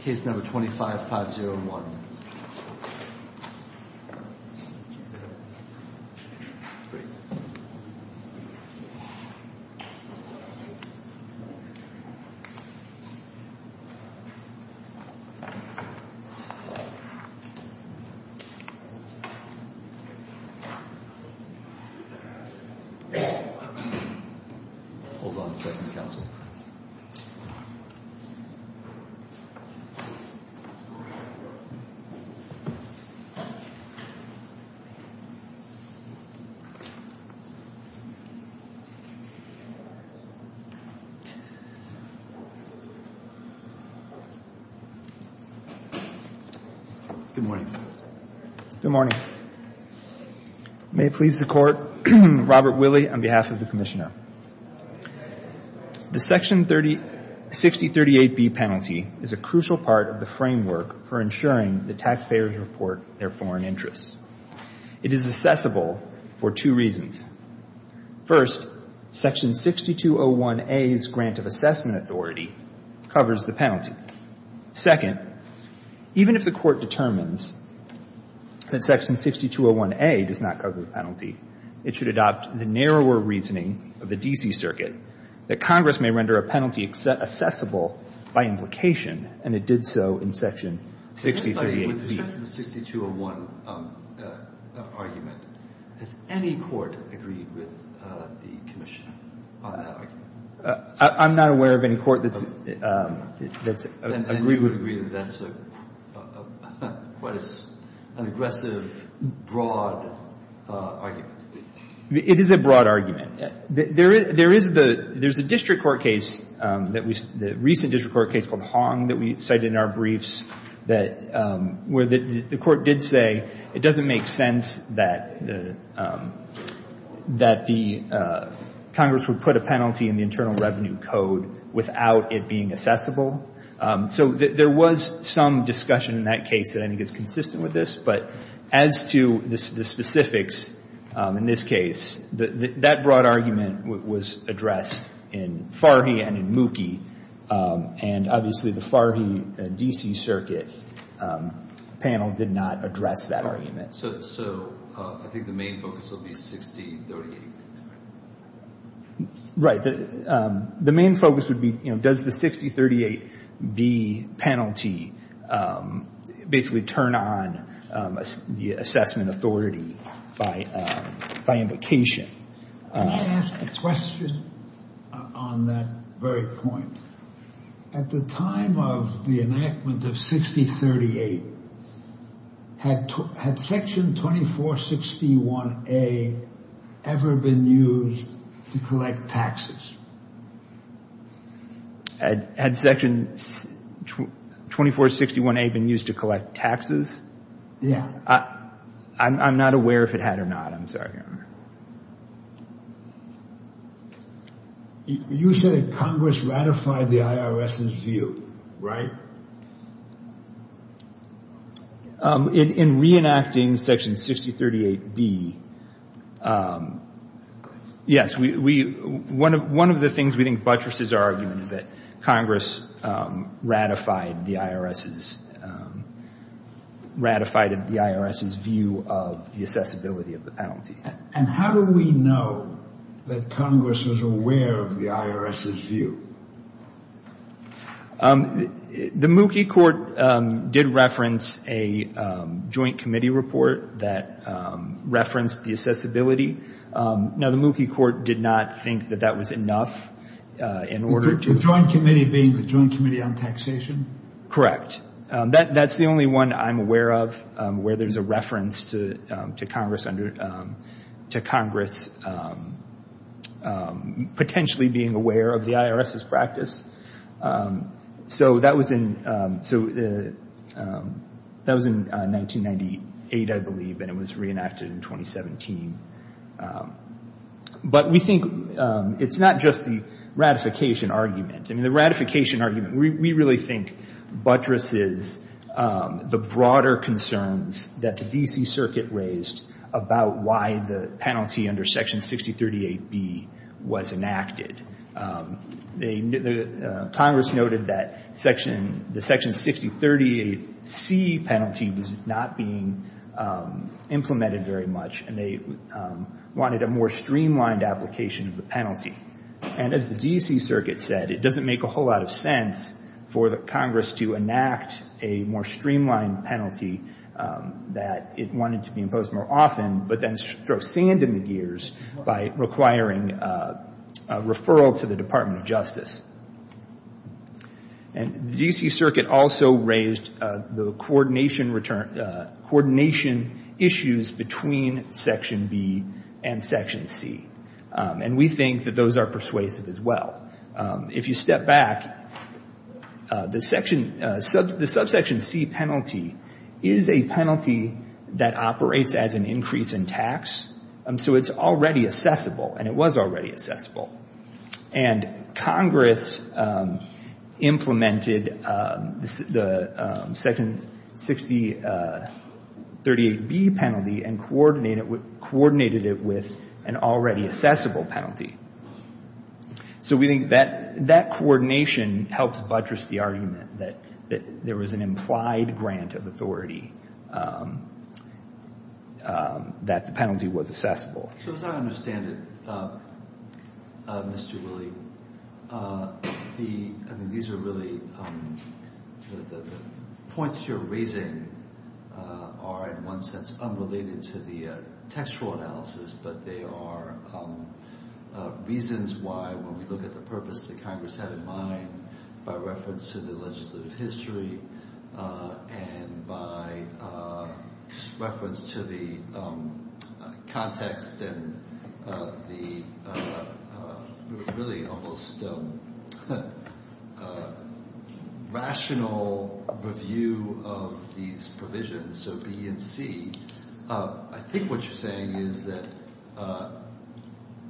Case No. 25-501 Good morning. Good morning. May it please the Court, Robert Willey, on behalf of the Commissioner. The Section 6038B penalty is a crucial part of the framework for ensuring that taxpayers report their foreign interests. It is accessible for two reasons. First, Section 6201A's grant of assessment authority covers the penalty. Second, even if the Court determines that Section 6201A does not cover the penalty, it should adopt the narrower reasoning of the D.C. Circuit that Congress may render a penalty accessible by implication, and it did so in Section 6308B. With respect to the 6201 argument, has any court agreed with the Commission on that argument? I'm not aware of any court that's agreed with it. I would agree that that's quite an aggressive, broad argument. It is a broad argument. There is a district court case, the recent district court case called Hong that we cited in our briefs, where the Court did say it doesn't make sense that the Congress would put a penalty in the Internal Revenue Code without it being accessible. So there was some discussion in that case that I think is consistent with this, but as to the specifics in this case, that broad argument was addressed in Farhi and in Mookie, and obviously the Farhi D.C. Circuit panel did not address that argument. So I think the main focus will be 6038. Right. The main focus would be, you know, does the 6038B penalty basically turn on the assessment authority by implication? Can I ask a question on that very point? At the time of the enactment of 6038, had Section 2461A ever been used to collect taxes? Had Section 2461A been used to collect taxes? Yeah. I'm not aware if it had or not. I'm sorry. You said Congress ratified the IRS's view, right? In reenacting Section 6038B, yes. One of the things we think buttresses are arguing is that Congress ratified the IRS's view of the accessibility of the penalty. And how do we know that Congress was aware of the IRS's view? The Mookie court did reference a joint committee report that referenced the accessibility. Now, the Mookie court did not think that that was enough in order to The joint committee being the Joint Committee on Taxation? Correct. That's the only one I'm aware of where there's a reference to Congress potentially being aware of the IRS's practice. So that was in 1998, I believe, and it was reenacted in 2017. But we think it's not just the ratification argument. I mean, the ratification argument, we really think buttresses the broader concerns that the D.C. Circuit raised about why the penalty under Section 6038B was enacted. Congress noted that the Section 6038C penalty was not being implemented very much, and they wanted a more streamlined application of the penalty. And as the D.C. Circuit said, it doesn't make a whole lot of sense for Congress to enact a more streamlined penalty that it wanted to be imposed more often, but then throw sand in the gears by requiring a referral to the Department of Justice. And the D.C. Circuit also raised the coordination issues between Section B and Section C, and we think that those are persuasive as well. If you step back, the Subsection C penalty is a penalty that operates as an increase in tax, so it's already assessable, and it was already assessable. And Congress implemented the Section 6038B penalty and coordinated it with an already assessable penalty. So we think that coordination helps buttress the argument that there was an implied grant of authority that the penalty was assessable. So as I understand it, Mr. Willey, these are really the points you're raising are in one sense unrelated to the textual analysis, but they are reasons why, when we look at the purpose that Congress had in mind by reference to the legislative history and by reference to the context and the really almost rational review of these provisions, so B and C, I think what you're saying is that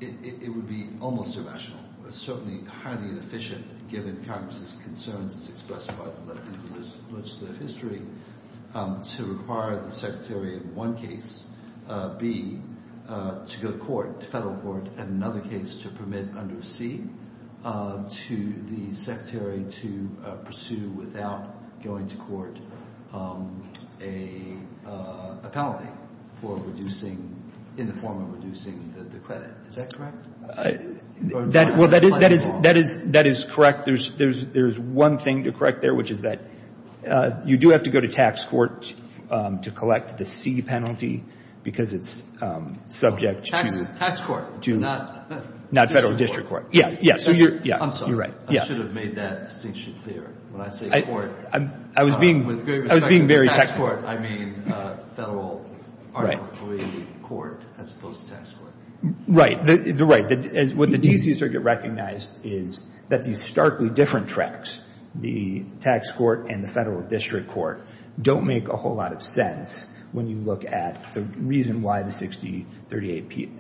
it would be almost irrational, certainly highly inefficient, given Congress's concerns expressed by the legislative history, to require the Secretary in one case, B, to go to court, to federal court, and another case, to permit under C, to the Secretary to pursue without going to court a penalty for reducing, in the form of reducing the credit. Is that correct? Well, that is correct. There's one thing to correct there, which is that you do have to go to tax court to collect the C penalty, because it's subject to... Tax court, not federal district court. Yeah, yeah. I'm sorry. You're right. I should have made that distinction clearer. When I say court, with great respect to tax court, I mean federal article III court, as opposed to tax court. Right. What the D.C. Circuit recognized is that these starkly different tracks, the tax court and the federal district court, don't make a whole lot of sense when you look at the reason why the 6038B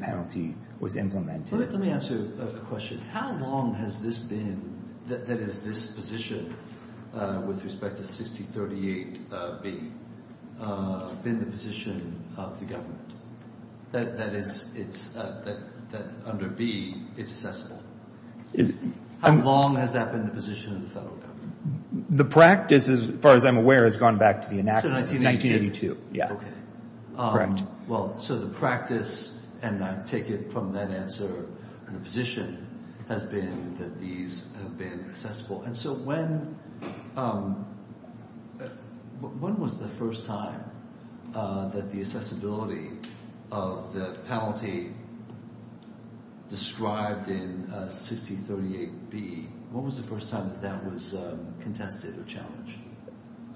penalty was implemented. Let me ask you a question. How long has this been, that is, this position with respect to 6038B, been the position of the government, that under B, it's accessible? How long has that been the position of the federal government? The practice, as far as I'm aware, has gone back to the enactment of 1982. Yeah. Okay. Correct. Well, so the practice, and I take it from that answer and the position, has been that these have been accessible. And so when was the first time that the accessibility of the penalty described in 6038B, when was the first time that that was contested or challenged?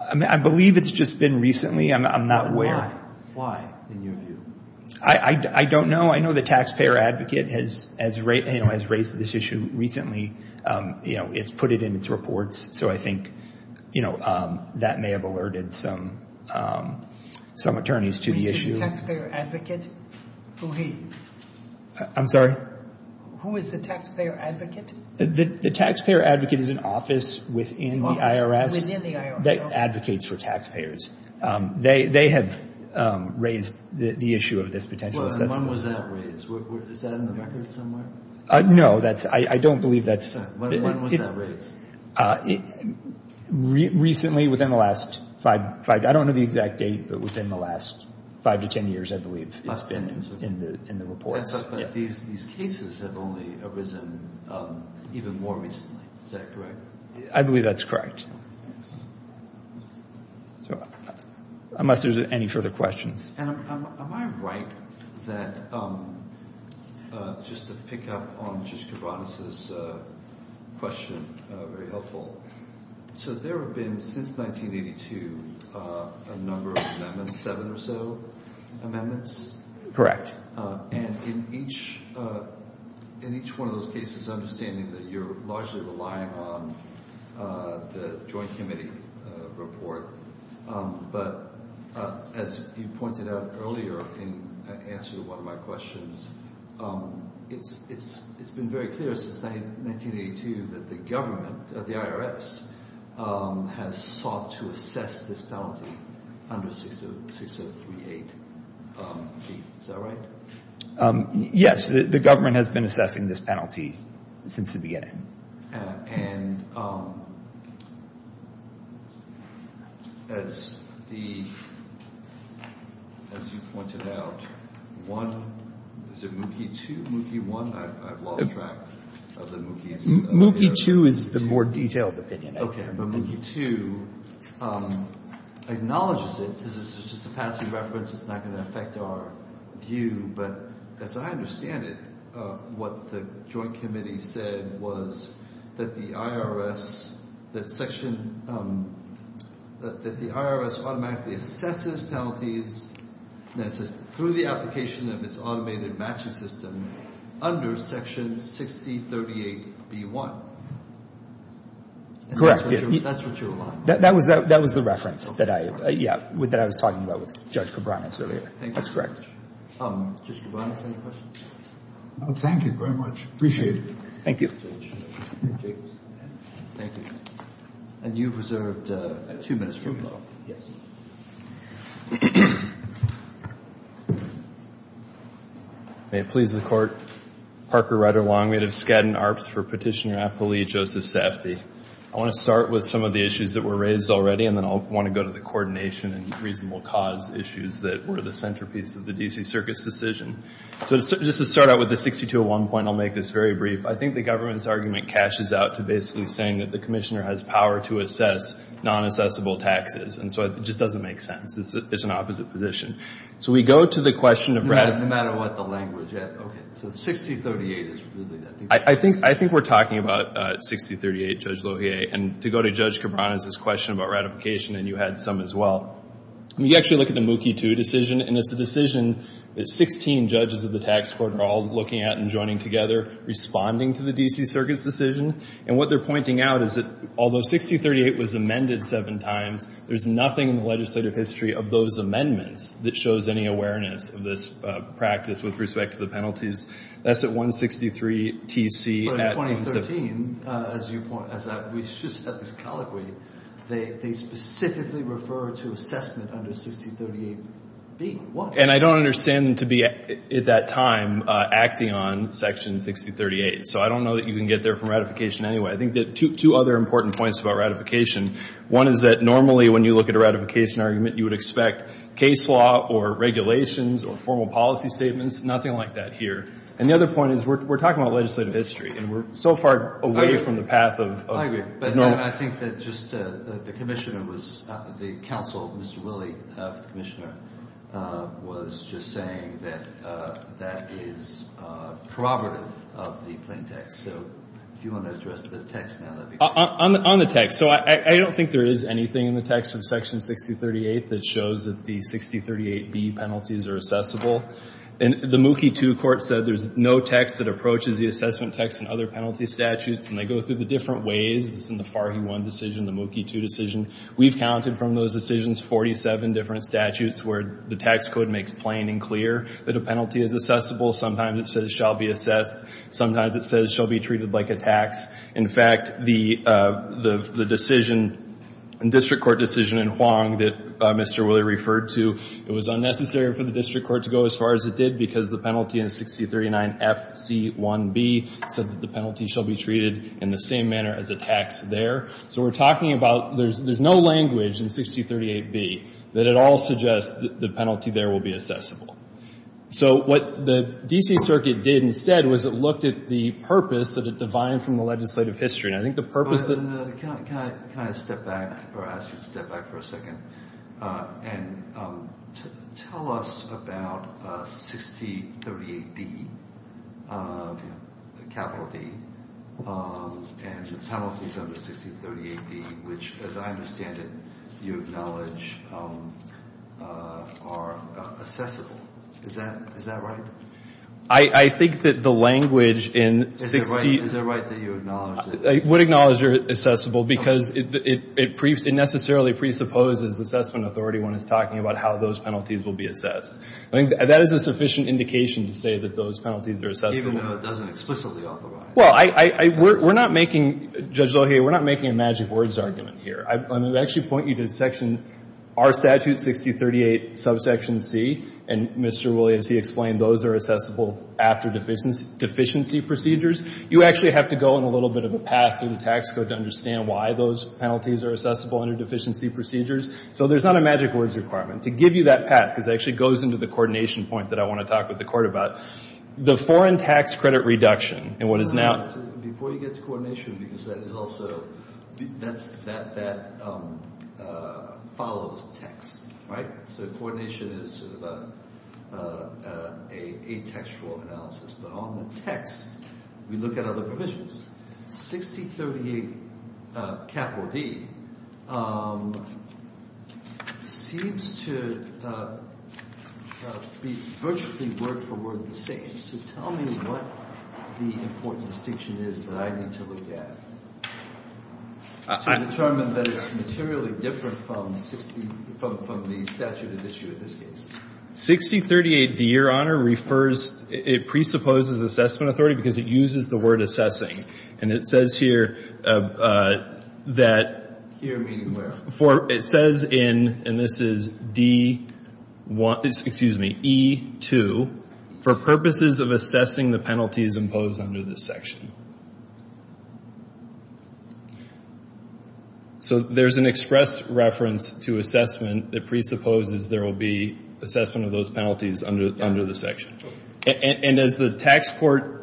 I believe it's just been recently. I'm not aware. Why? Why, in your view? I don't know. I know the taxpayer advocate has raised this issue recently. It's put it in its reports, so I think that may have alerted some attorneys to the issue. Who is the taxpayer advocate? I'm sorry? Who is the taxpayer advocate? The taxpayer advocate is an office within the IRS that advocates for taxpayers. They have raised the issue of this potential accessibility. When was that raised? Is that in the records somewhere? No. I don't believe that's. When was that raised? Recently, within the last five. I don't know the exact date, but within the last five to ten years, I believe, it's been in the reports. These cases have only arisen even more recently. Is that correct? I believe that's correct. Unless there's any further questions. Am I right that, just to pick up on Judge Kibanis' question, very helpful, so there have been, since 1982, a number of amendments, seven or so amendments? Correct. And in each one of those cases, understanding that you're largely relying on the joint committee report, but as you pointed out earlier in answer to one of my questions, it's been very clear since 1982 that the government, the IRS, has sought to assess this penalty under 6038B. Is that right? Yes. The government has been assessing this penalty since the beginning. And as the, as you pointed out, one, is it Mookie 2, Mookie 1? I've lost track of the Mookies. Mookie 2 is the more detailed opinion. Okay. But Mookie 2 acknowledges it, says it's just a passing reference, it's not going to affect our view. But as I understand it, what the joint committee said was that the IRS, that section, that the IRS automatically assesses penalties through the application of its automated matching system under section 6038B.1. That's what you're relying on. That was the reference that I, yeah, that I was talking about with Judge Kibanis earlier. That's correct. Judge Kibanis, any questions? No, thank you very much. Appreciate it. Thank you. Thank you. And you've reserved two minutes for rebuttal. Yes. May it please the Court. Parker Rider-Long. We have Skadden Arps for Petitioner Apolli Joseph Safdie. I want to start with some of the issues that were raised already, and then I'll want to go to the coordination and reasonable cause issues that were the centerpiece of the D.C. Circus decision. So just to start out with the 6201 point, I'll make this very brief. I think the government's argument cashes out to basically saying that the commissioner has power to assess non-assessable taxes. And so it just doesn't make sense. It's an opposite position. So we go to the question of ratification. No matter what the language. Okay. So 6038 is really that. I think we're talking about 6038, Judge Lohier. And to go to Judge Cabran is this question about ratification, and you had some as well. You actually look at the Mookie II decision, and it's a decision that 16 judges of the tax court are all looking at and joining together, responding to the D.C. Circus decision. And what they're pointing out is that although 6038 was amended seven times, there's nothing in the legislative history of those amendments that shows any awareness of this practice with respect to the penalties. That's at 163 T.C. But in 2013, as you point out, we just had this colloquy. They specifically refer to assessment under 6038B. And I don't understand them to be at that time acting on Section 6038. So I don't know that you can get there from ratification anyway. I think there are two other important points about ratification. One is that normally when you look at a ratification argument, you would expect case law or regulations or formal policy statements, nothing like that here. And the other point is we're talking about legislative history, and we're so far away from the path of normal. I agree. But I think that just the commissioner was, the counsel, Mr. Willey, commissioner, was just saying that that is prerogative of the plain text. So if you want to address the text now, that would be great. On the text. So I don't think there is anything in the text of Section 6038 that shows that the 6038B penalties are assessable. And the Mookie II court said there's no text that approaches the assessment text in other penalty statutes. And they go through the different ways. This is in the Farhi I decision, the Mookie II decision. We've counted from those decisions 47 different statutes where the tax code makes plain and clear that a penalty is assessable. Sometimes it says it shall be assessed. Sometimes it says it shall be treated like a tax. In fact, the decision, district court decision in Huang that Mr. Willey referred to, it was unnecessary for the district court to go as far as it did because the penalty in 6039FC1B said that the penalty shall be treated in the same manner as a tax there. So we're talking about there's no language in 6038B that at all suggests that the penalty there will be assessable. So what the D.C. Circuit did instead was it looked at the purpose that it divined from the legislative history. And I think the purpose of the — Can I step back or ask you to step back for a second and tell us about 6038D, capital D, and the penalties under 6038B which, as I understand it, you acknowledge are assessable. Is that right? I think that the language in 60 — Is it right that you acknowledge that — I would acknowledge they're assessable because it necessarily presupposes assessment authority when it's talking about how those penalties will be assessed. I think that is a sufficient indication to say that those penalties are assessable. Even though it doesn't explicitly authorize. Well, I — we're not making — Judge Lohe, we're not making a magic words argument here. I'm going to actually point you to section — our statute, 6038 subsection C, and Mr. Willey, as he explained, those are assessable after deficiency procedures. You actually have to go in a little bit of a path in the tax code to understand why those penalties are assessable under deficiency procedures. So there's not a magic words requirement. To give you that path, because it actually goes into the coordination point that I want to talk with the court about, the foreign tax credit reduction and what is now — Before you get to coordination, because that is also — that follows text, right? So coordination is a textual analysis. But on the text, we look at other provisions. 6038 capital D seems to be virtually word for word the same. So tell me what the important distinction is that I need to look at to determine that it's materially different from 60 — from the statute of issue in this case. 6038 D, Your Honor, refers — it presupposes assessment authority because it uses the word assessing. And it says here that — Here meaning where? For — it says in — and this is D1 — excuse me, E2, for purposes of assessing the penalties imposed under this section. So there's an express reference to assessment that presupposes there will be assessment of those penalties under the section. And as the tax court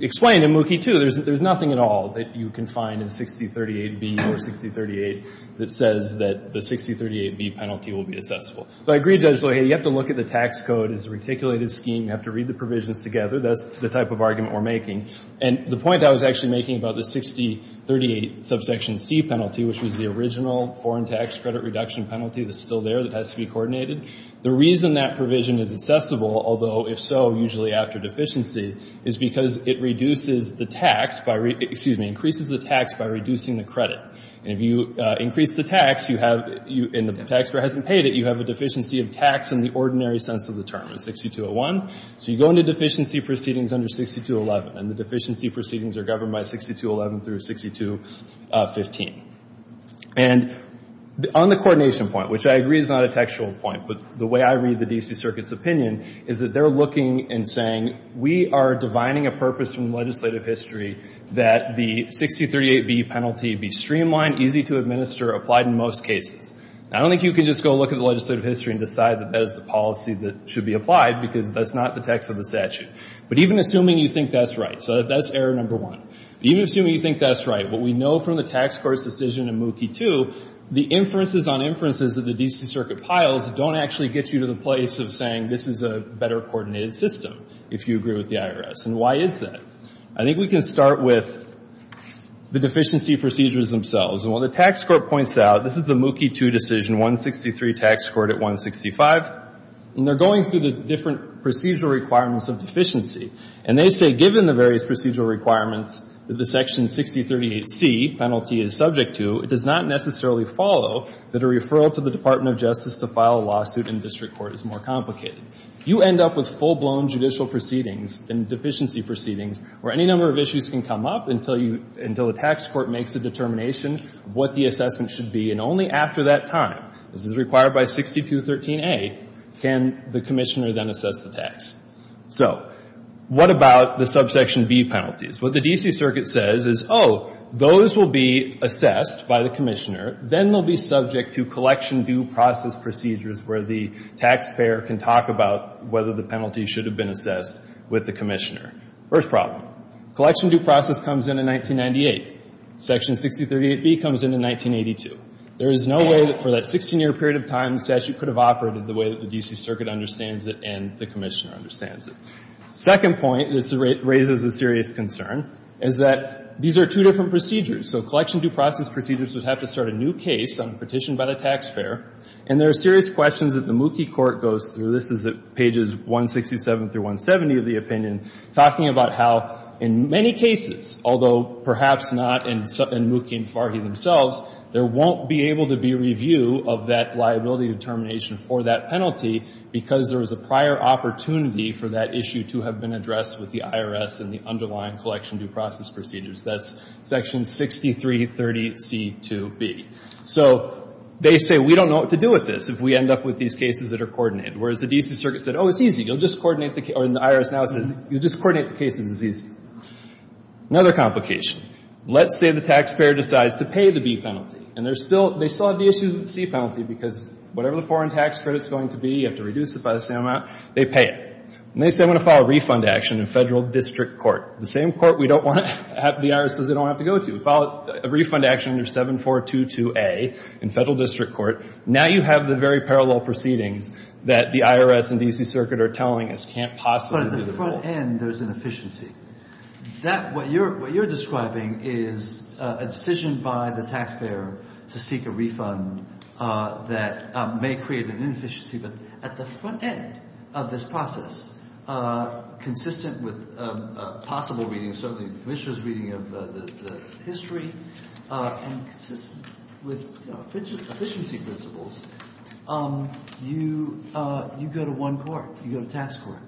explained in Mookie 2, there's nothing at all that you can find in 6038 B or 6038 that says that the 6038 B penalty will be assessable. So I agree, Judge Lohe, you have to look at the tax code as a reticulated scheme. You have to read the provisions together. That's the type of argument we're making. And the point I was actually making about the 6038 subsection C penalty, which was the original foreign tax credit reduction penalty that's still there that has to be coordinated, the reason that provision is assessable, although, if so, usually after deficiency, is because it reduces the tax by — excuse me, increases the tax by reducing the credit. And if you increase the tax, you have — and the taxpayer hasn't paid it, you have a deficiency of tax in the ordinary sense of the term in 6201. So you go into deficiency proceedings under 6211, and the deficiency proceedings are governed by 6211 through 6215. And on the coordination point, which I agree is not a textual point, but the way I read the D.C. Circuit's opinion is that they're looking and saying we are divining a purpose from legislative history that the 6038 B penalty be streamlined, easy to administer, applied in most cases. And I don't think you can just go look at the legislative history and decide that that is the policy that should be applied because that's not the text of the statute. But even assuming you think that's right — so that's error number one. Even assuming you think that's right, what we know from the tax court's decision in Mookie 2, the inferences on inferences that the D.C. Circuit piles don't actually get you to the place of saying this is a better coordinated system, if you agree with the IRS. And why is that? I think we can start with the deficiency procedures themselves. And what the tax court points out — this is a Mookie 2 decision, 163 tax court at 165. And they're going through the different procedural requirements of deficiency. And they say given the various procedural requirements that the Section 6038C penalty is subject to, it does not necessarily follow that a referral to the Department of Justice to file a lawsuit in district court is more complicated. You end up with full-blown judicial proceedings and deficiency proceedings where any number of issues can come up until you — until the tax court makes a determination of what the assessment should be. And only after that time — this is required by 6213A — can the commissioner then assess the tax. So what about the subsection B penalties? What the D.C. Circuit says is, oh, those will be assessed by the commissioner. Then they'll be subject to collection due process procedures where the taxpayer can talk about whether the penalty should have been assessed with the commissioner. First problem. Collection due process comes in in 1998. Section 6038B comes in in 1982. There is no way that for that 16-year period of time the statute could have operated the way that the D.C. Circuit understands it and the commissioner understands it. Second point — this raises a serious concern — is that these are two different procedures. So collection due process procedures would have to start a new case on a petition by the taxpayer. And there are serious questions that the Mookie court goes through. So this is at pages 167 through 170 of the opinion, talking about how in many cases, although perhaps not in Mookie and Farhi themselves, there won't be able to be review of that liability determination for that penalty because there was a prior opportunity for that issue to have been addressed with the IRS and the underlying collection due process procedures. That's section 6330C2B. So they say, we don't know what to do with this if we end up with these cases that are coordinated. Whereas the D.C. Circuit said, oh, it's easy. You'll just coordinate the — or the IRS now says, you'll just coordinate the cases. It's easy. Another complication. Let's say the taxpayer decides to pay the B penalty. And there's still — they still have the issue with the C penalty because whatever the foreign tax credit is going to be, you have to reduce it by the same amount, they pay it. And they say, I'm going to file a refund action in Federal District Court, the same court we don't want to — the IRS says they don't want to have to go to. We file a refund action under 7422A in Federal District Court. Now you have the very parallel proceedings that the IRS and D.C. Circuit are telling us can't possibly be the goal. But at the front end, there's an efficiency. That — what you're describing is a decision by the taxpayer to seek a refund that may create an inefficiency. But at the front end of this process, consistent with possible reading, certainly the commissioner's reading of the history, and consistent with, you know, efficiency principles, you go to one court. You go to tax court.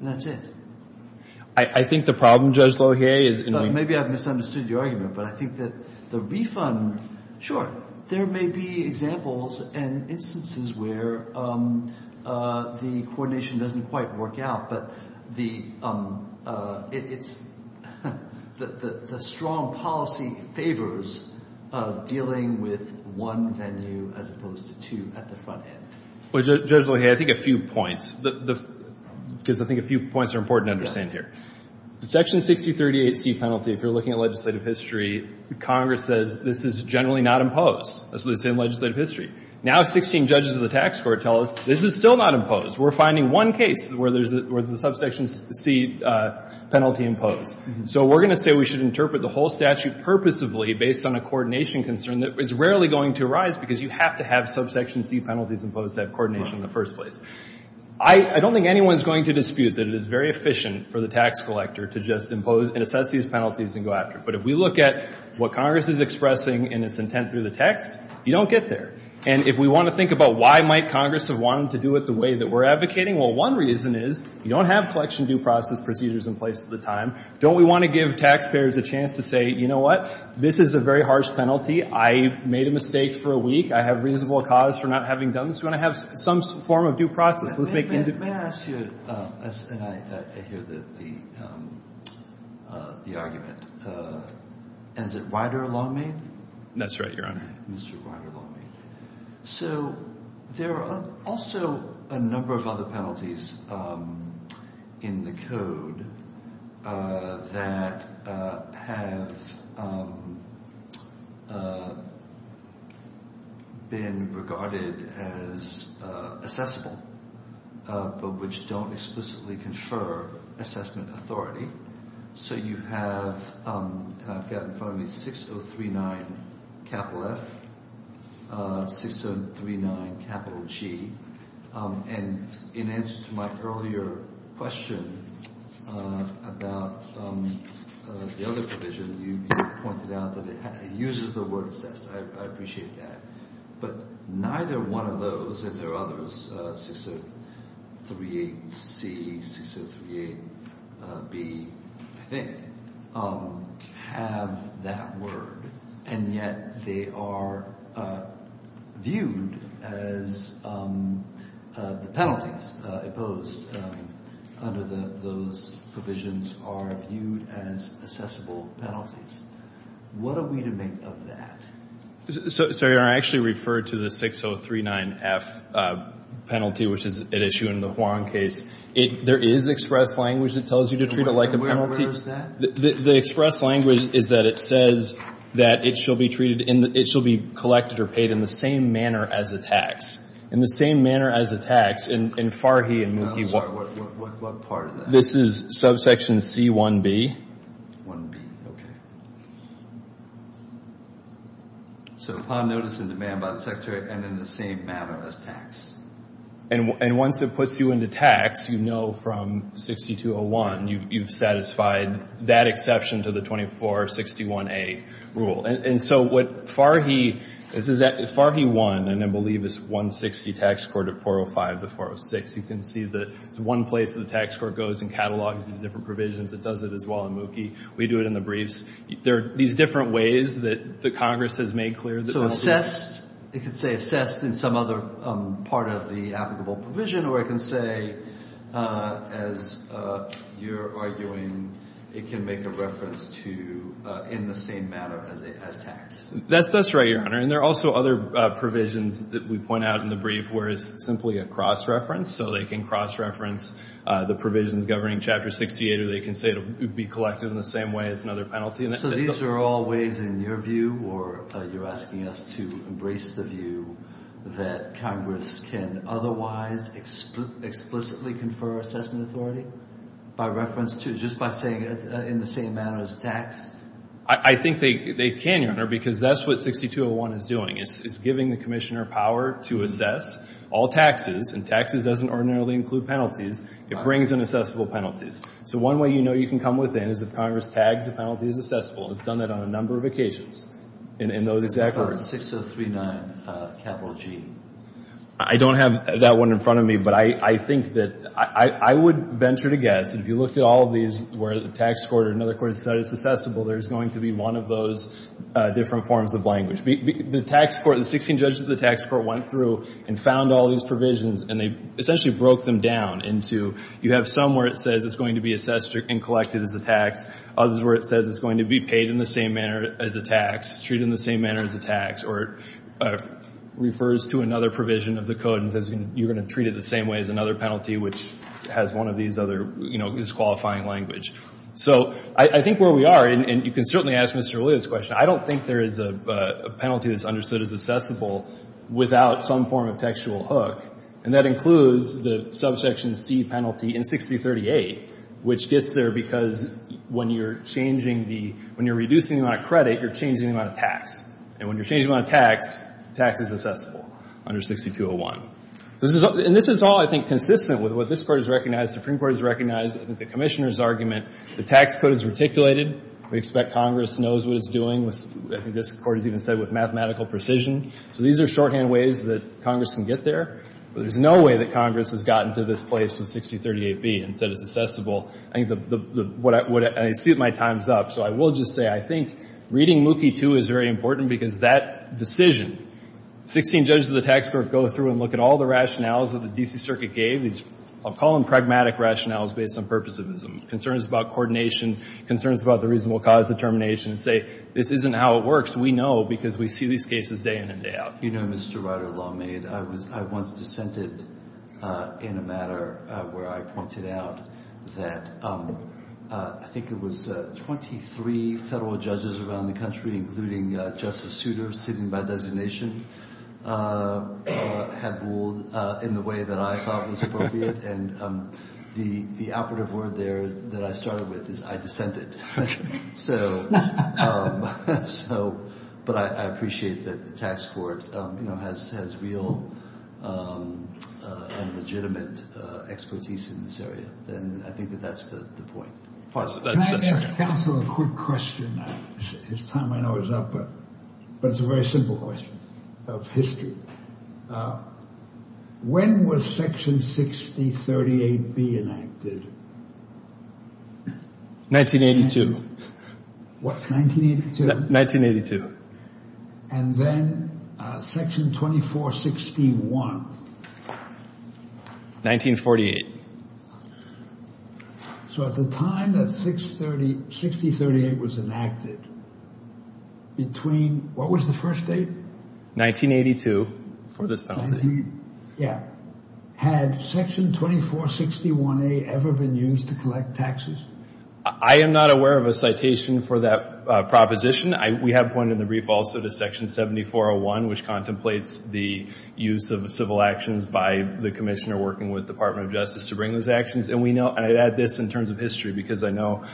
And that's it. I think the problem, Judge Lohe, is in — Maybe I've misunderstood your argument. But I think that the refund, sure, there may be examples and instances where the coordination doesn't quite work out. But the — it's — the strong policy favors dealing with one venue as opposed to two at the front end. Well, Judge Lohe, I think a few points, because I think a few points are important to understand here. Section 6038C penalty, if you're looking at legislative history, Congress says this is generally not imposed. That's what it says in legislative history. Now 16 judges of the tax court tell us this is still not imposed. We're finding one case where there's a — where the subsection C penalty imposed. So we're going to say we should interpret the whole statute purposefully based on a coordination concern that is rarely going to arise because you have to have subsection C penalties imposed to have coordination in the first place. I don't think anyone's going to dispute that it is very efficient for the tax collector to just impose and assess these penalties and go after it. But if we look at what Congress is expressing in its intent through the text, you don't get there. And if we want to think about why might Congress have wanted to do it the way that we're advocating, well, one reason is you don't have collection due process procedures in place at the time. Don't we want to give taxpayers a chance to say, you know what, this is a very harsh penalty. I made a mistake for a week. I have reasonable cause for not having done this. We want to have some form of due process. Let's make — Let me ask you — and I hear the argument. Is it Ryder law made? That's right, Your Honor. Mr. Ryder law made. So there are also a number of other penalties in the code that have been regarded as assessable, but which don't explicitly confer assessment authority. So you have — I've got in front of me 6039 capital F, 6039 capital G. And in answer to my earlier question about the other provision, you pointed out that it uses the word assess. I appreciate that. But neither one of those, if there are others, 6038C, 6038B, I think, have that word. And yet they are viewed as — the penalties imposed under those provisions are viewed as assessable penalties. What are we to make of that? Sorry, Your Honor. I actually referred to the 6039F penalty, which is at issue in the Huang case. There is express language that tells you to treat it like a penalty. Where is that? The express language is that it says that it shall be treated in the — it shall be collected or paid in the same manner as a tax, in the same manner as a tax. In Farhi and — I'm sorry. What part of that? This is subsection C1B. 1B. Okay. So upon notice and demand by the Secretary and in the same manner as tax. And once it puts you into tax, you know from 6201 you've satisfied that exception to the 2461A rule. And so what Farhi — Farhi won in, I believe, his 160 tax court of 405 to 406. You can see that it's one place that the tax court goes and catalogs these different provisions. It does it as well in Mookie. We do it in the briefs. There are these different ways that Congress has made clear that — So assessed — it can say assessed in some other part of the applicable provision, or it can say, as you're arguing, it can make a reference to in the same manner as tax. That's right, Your Honor. And there are also other provisions that we point out in the brief where it's simply a cross-reference. So they can cross-reference the provisions governing Chapter 68, or they can say it would be collected in the same way as another penalty. So these are all ways, in your view, or you're asking us to embrace the view, that Congress can otherwise explicitly confer assessment authority by reference to — just by saying it in the same manner as tax? I think they can, Your Honor, because that's what 6201 is doing. It's giving the Commissioner power to assess all taxes. And taxes doesn't ordinarily include penalties. It brings in assessable penalties. So one way you know you can come within is if Congress tags a penalty as assessable. It's done that on a number of occasions. And those exact words — 6039, capital G. I don't have that one in front of me, but I think that — I would venture to guess, if you looked at all of these where the tax court or another court said it's assessable, there's going to be one of those different forms of language. The tax court — the 16 judges of the tax court went through and found all these provisions, and they essentially broke them down into — you have some where it says it's going to be assessed and collected as a tax, others where it says it's going to be paid in the same manner as a tax, treated in the same manner as a tax, or it refers to another provision of the code and says you're going to treat it the same way as another penalty, which has one of these other — you know, is qualifying language. So I think where we are — and you can certainly ask Mr. Alito this question — I don't think there is a penalty that's understood as assessable without some form of textual hook. And that includes the subsection C penalty in 6038, which gets there because when you're changing the — when you're reducing the amount of credit, you're changing the amount of tax. And when you're changing the amount of tax, tax is assessable under 6201. And this is all, I think, consistent with what this Court has recognized, Supreme Court has recognized, I think the Commissioner's argument. The tax code is articulated. We expect Congress knows what it's doing. I think this Court has even said with mathematical precision. So these are shorthand ways that Congress can get there. But there's no way that Congress has gotten to this place with 6038B and said it's assessable. I think the — I see my time's up. So I will just say I think reading Mookie II is very important because that decision, 16 judges of the tax court go through and look at all the rationales that the D.C. Circuit gave. I'll call them pragmatic rationales based on purposivism, concerns about coordination, concerns about the reasonable cause determination, and say this isn't how it works. We know because we see these cases day in and day out. You know, Mr. Ryder, lawmaid, I was — I once dissented in a matter where I pointed out that I think it was 23 federal judges around the country, including Justice Souter, sitting by designation, had ruled in the way that I thought was appropriate. And the operative word there that I started with is I dissented. So — but I appreciate that the tax court, you know, has real and legitimate expertise in this area. And I think that that's the point. Can I ask counsel a quick question? His time, I know, is up, but it's a very simple question of history. When was Section 6038B enacted? 1982. What, 1982? 1982. And then Section 2461? 1948. So at the time that 630 — 6038 was enacted, between — what was the first date? 1982, for this penalty. Yeah. Had Section 2461A ever been used to collect taxes? I am not aware of a citation for that proposition. We have pointed in the brief also to Section 7401, which contemplates the use of civil actions by the commissioner working with the Department of Justice to bring those actions. And we know — and I'd add this in terms of history, because I know,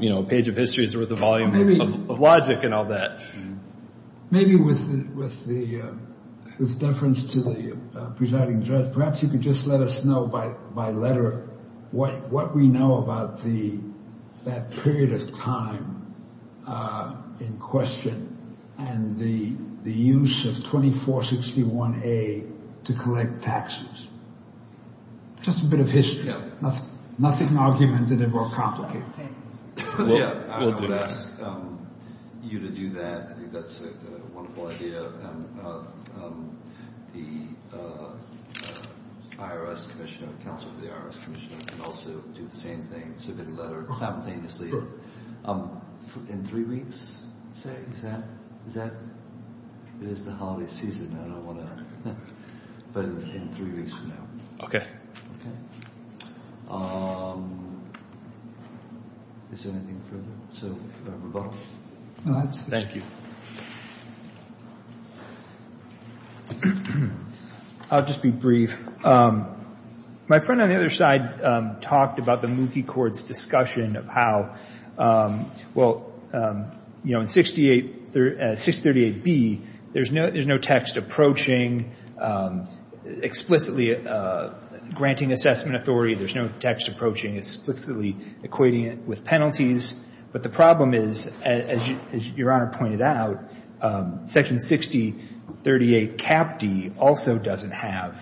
you know, a page of history is worth a volume of logic and all that. Maybe with deference to the presiding judge, perhaps you could just let us know by letter what we know about that period of time in question and the use of 2461A to collect taxes. Just a bit of history. Nothing argumentative or complicated. Yeah, I would ask you to do that. I think that's a wonderful idea. And the IRS commissioner, counsel for the IRS commissioner, can also do the same thing, submit a letter simultaneously in three weeks, say. Is that — it is the holiday season. I don't want to — but in three weeks from now. Okay. Okay. Is there anything further? So, rebuttal? Go ahead. Thank you. I'll just be brief. My friend on the other side talked about the Mookie court's discussion of how, well, you know, in 638B, there's no text approaching explicitly granting assessment authority. There's no text approaching explicitly equating it with penalties. But the problem is, as Your Honor pointed out, Section 6038CapD also doesn't have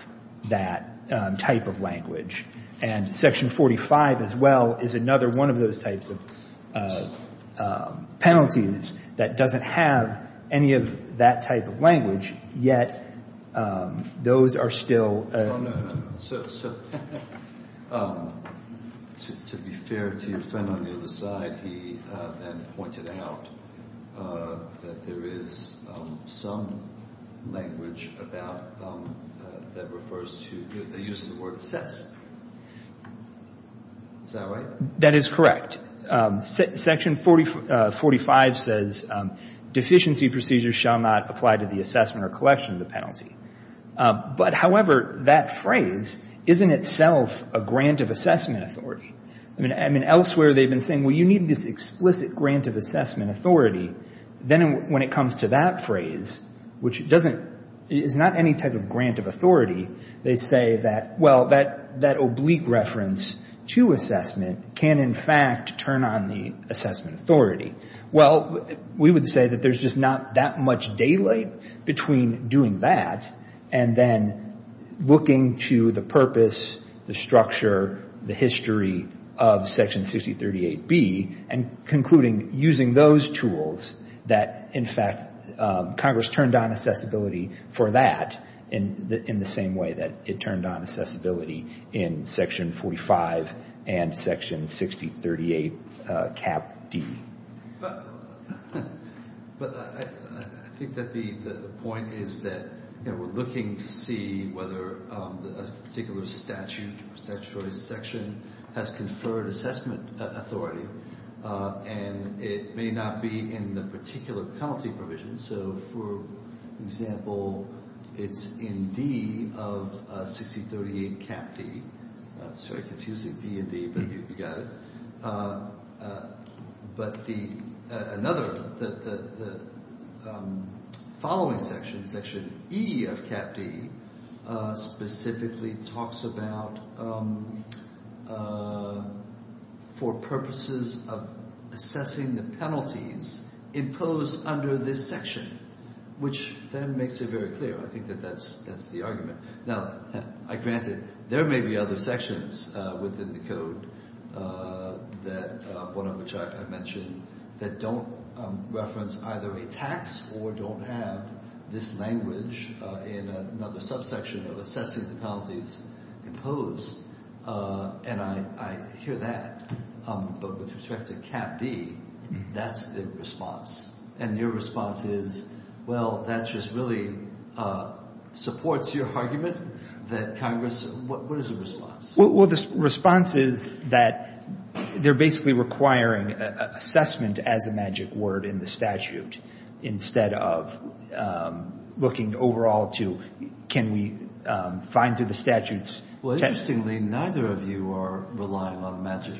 that type of language. And Section 45 as well is another one of those types of penalties that doesn't have any of that type of language, yet those are still — So, to be fair to your friend on the other side, he then pointed out that there is some language about — that refers to the use of the word assessed. Is that right? That is correct. Section 45 says deficiency procedures shall not apply to the assessment or collection of the penalty. But, however, that phrase is in itself a grant of assessment authority. I mean, elsewhere they've been saying, well, you need this explicit grant of assessment authority. Then when it comes to that phrase, which doesn't — is not any type of grant of authority, they say that, well, that oblique reference to assessment can, in fact, turn on the assessment authority. Well, we would say that there's just not that much daylight between doing that and then looking to the purpose, the structure, the history of Section 6038B and concluding using those tools that, in fact, Congress turned on accessibility for that in the same way that it turned on accessibility in Section 45 and Section 6038 Cap D. But I think that the point is that we're looking to see whether a particular statute or statutory section has conferred assessment authority, and it may not be in the particular penalty provision. So, for example, it's in D of 6038 Cap D. Sorry, confusing D and D, but you got it. But the — another — the following section, Section E of Cap D, specifically talks about for purposes of assessing the penalties imposed under this section, which then makes it very clear. I think that that's the argument. Now, granted, there may be other sections within the Code that — one of which I mentioned — that don't reference either a tax or don't have this language in another subsection of assessing the penalties imposed, and I hear that. But with respect to Cap D, that's the response. And your response is, well, that just really supports your argument that Congress — what is the response? Well, the response is that they're basically requiring assessment as a magic word in the statute instead of looking overall to can we find through the statute's — Well, interestingly, neither of you are relying on magic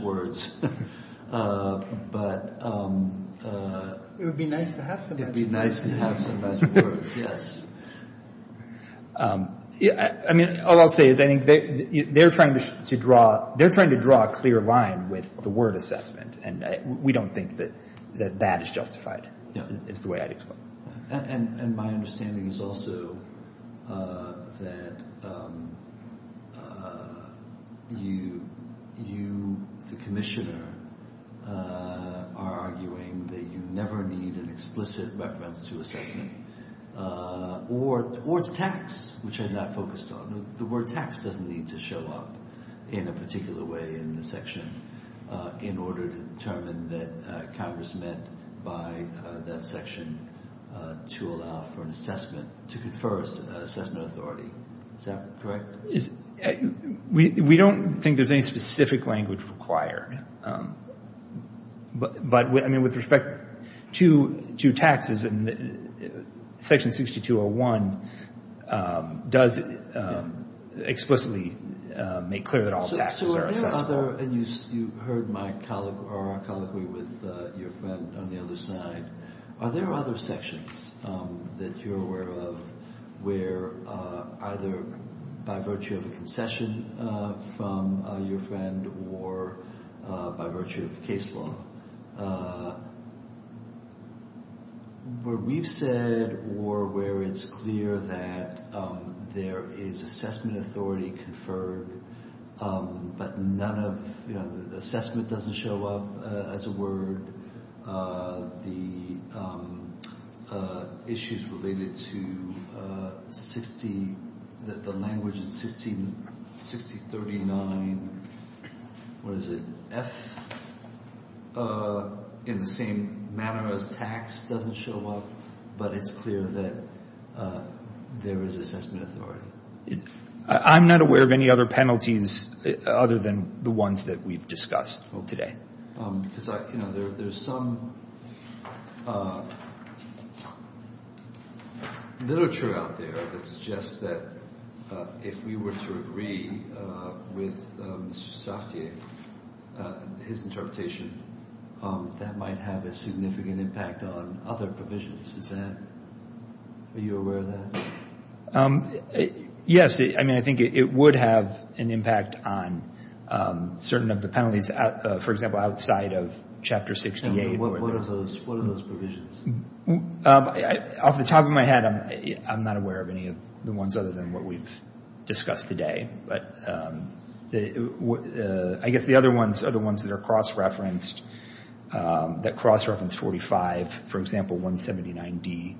words, but — It would be nice to have some magic words. It would be nice to have some magic words, yes. I mean, all I'll say is I think they're trying to draw a clear line with the word assessment, and we don't think that that is justified, is the way I'd explain it. And my understanding is also that you, the Commissioner, are arguing that you never need an explicit reference to assessment. Or it's tax, which I'm not focused on. The word tax doesn't need to show up in a particular way in the section in order to determine that Congress meant by that section to allow for an assessment, to confer assessment authority. Is that correct? We don't think there's any specific language required. But, I mean, with respect to taxes, Section 6201 does explicitly make clear that all taxes are assessable. And you heard my colloquy with your friend on the other side. Are there other sections that you're aware of where either by virtue of a concession from your friend or by virtue of case law, where we've said or where it's clear that there is assessment authority conferred, but none of the assessment doesn't show up as a word? The issues related to the language in 6039, what is it, F, in the same manner as tax doesn't show up, but it's clear that there is assessment authority? I'm not aware of any other penalties other than the ones that we've discussed today. Because there's some literature out there that suggests that if we were to agree with Mr. Saftier, his interpretation, that might have a significant impact on other provisions. Are you aware of that? Yes. I mean, I think it would have an impact on certain of the penalties, for example, outside of Chapter 68. What are those provisions? Off the top of my head, I'm not aware of any of the ones other than what we've discussed today. I guess the other ones are the ones that are cross-referenced, that cross-reference 45. For example, 179D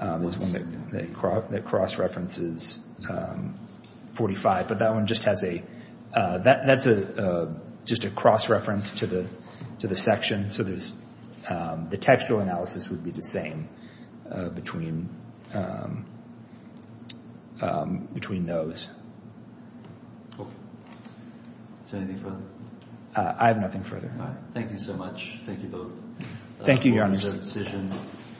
is one that cross-references 45, but that one just has a cross-reference to the section. So the textual analysis would be the same between those. Is there anything further? I have nothing further. All right. Thank you so much. Thank you both. Thank you, Your Honors.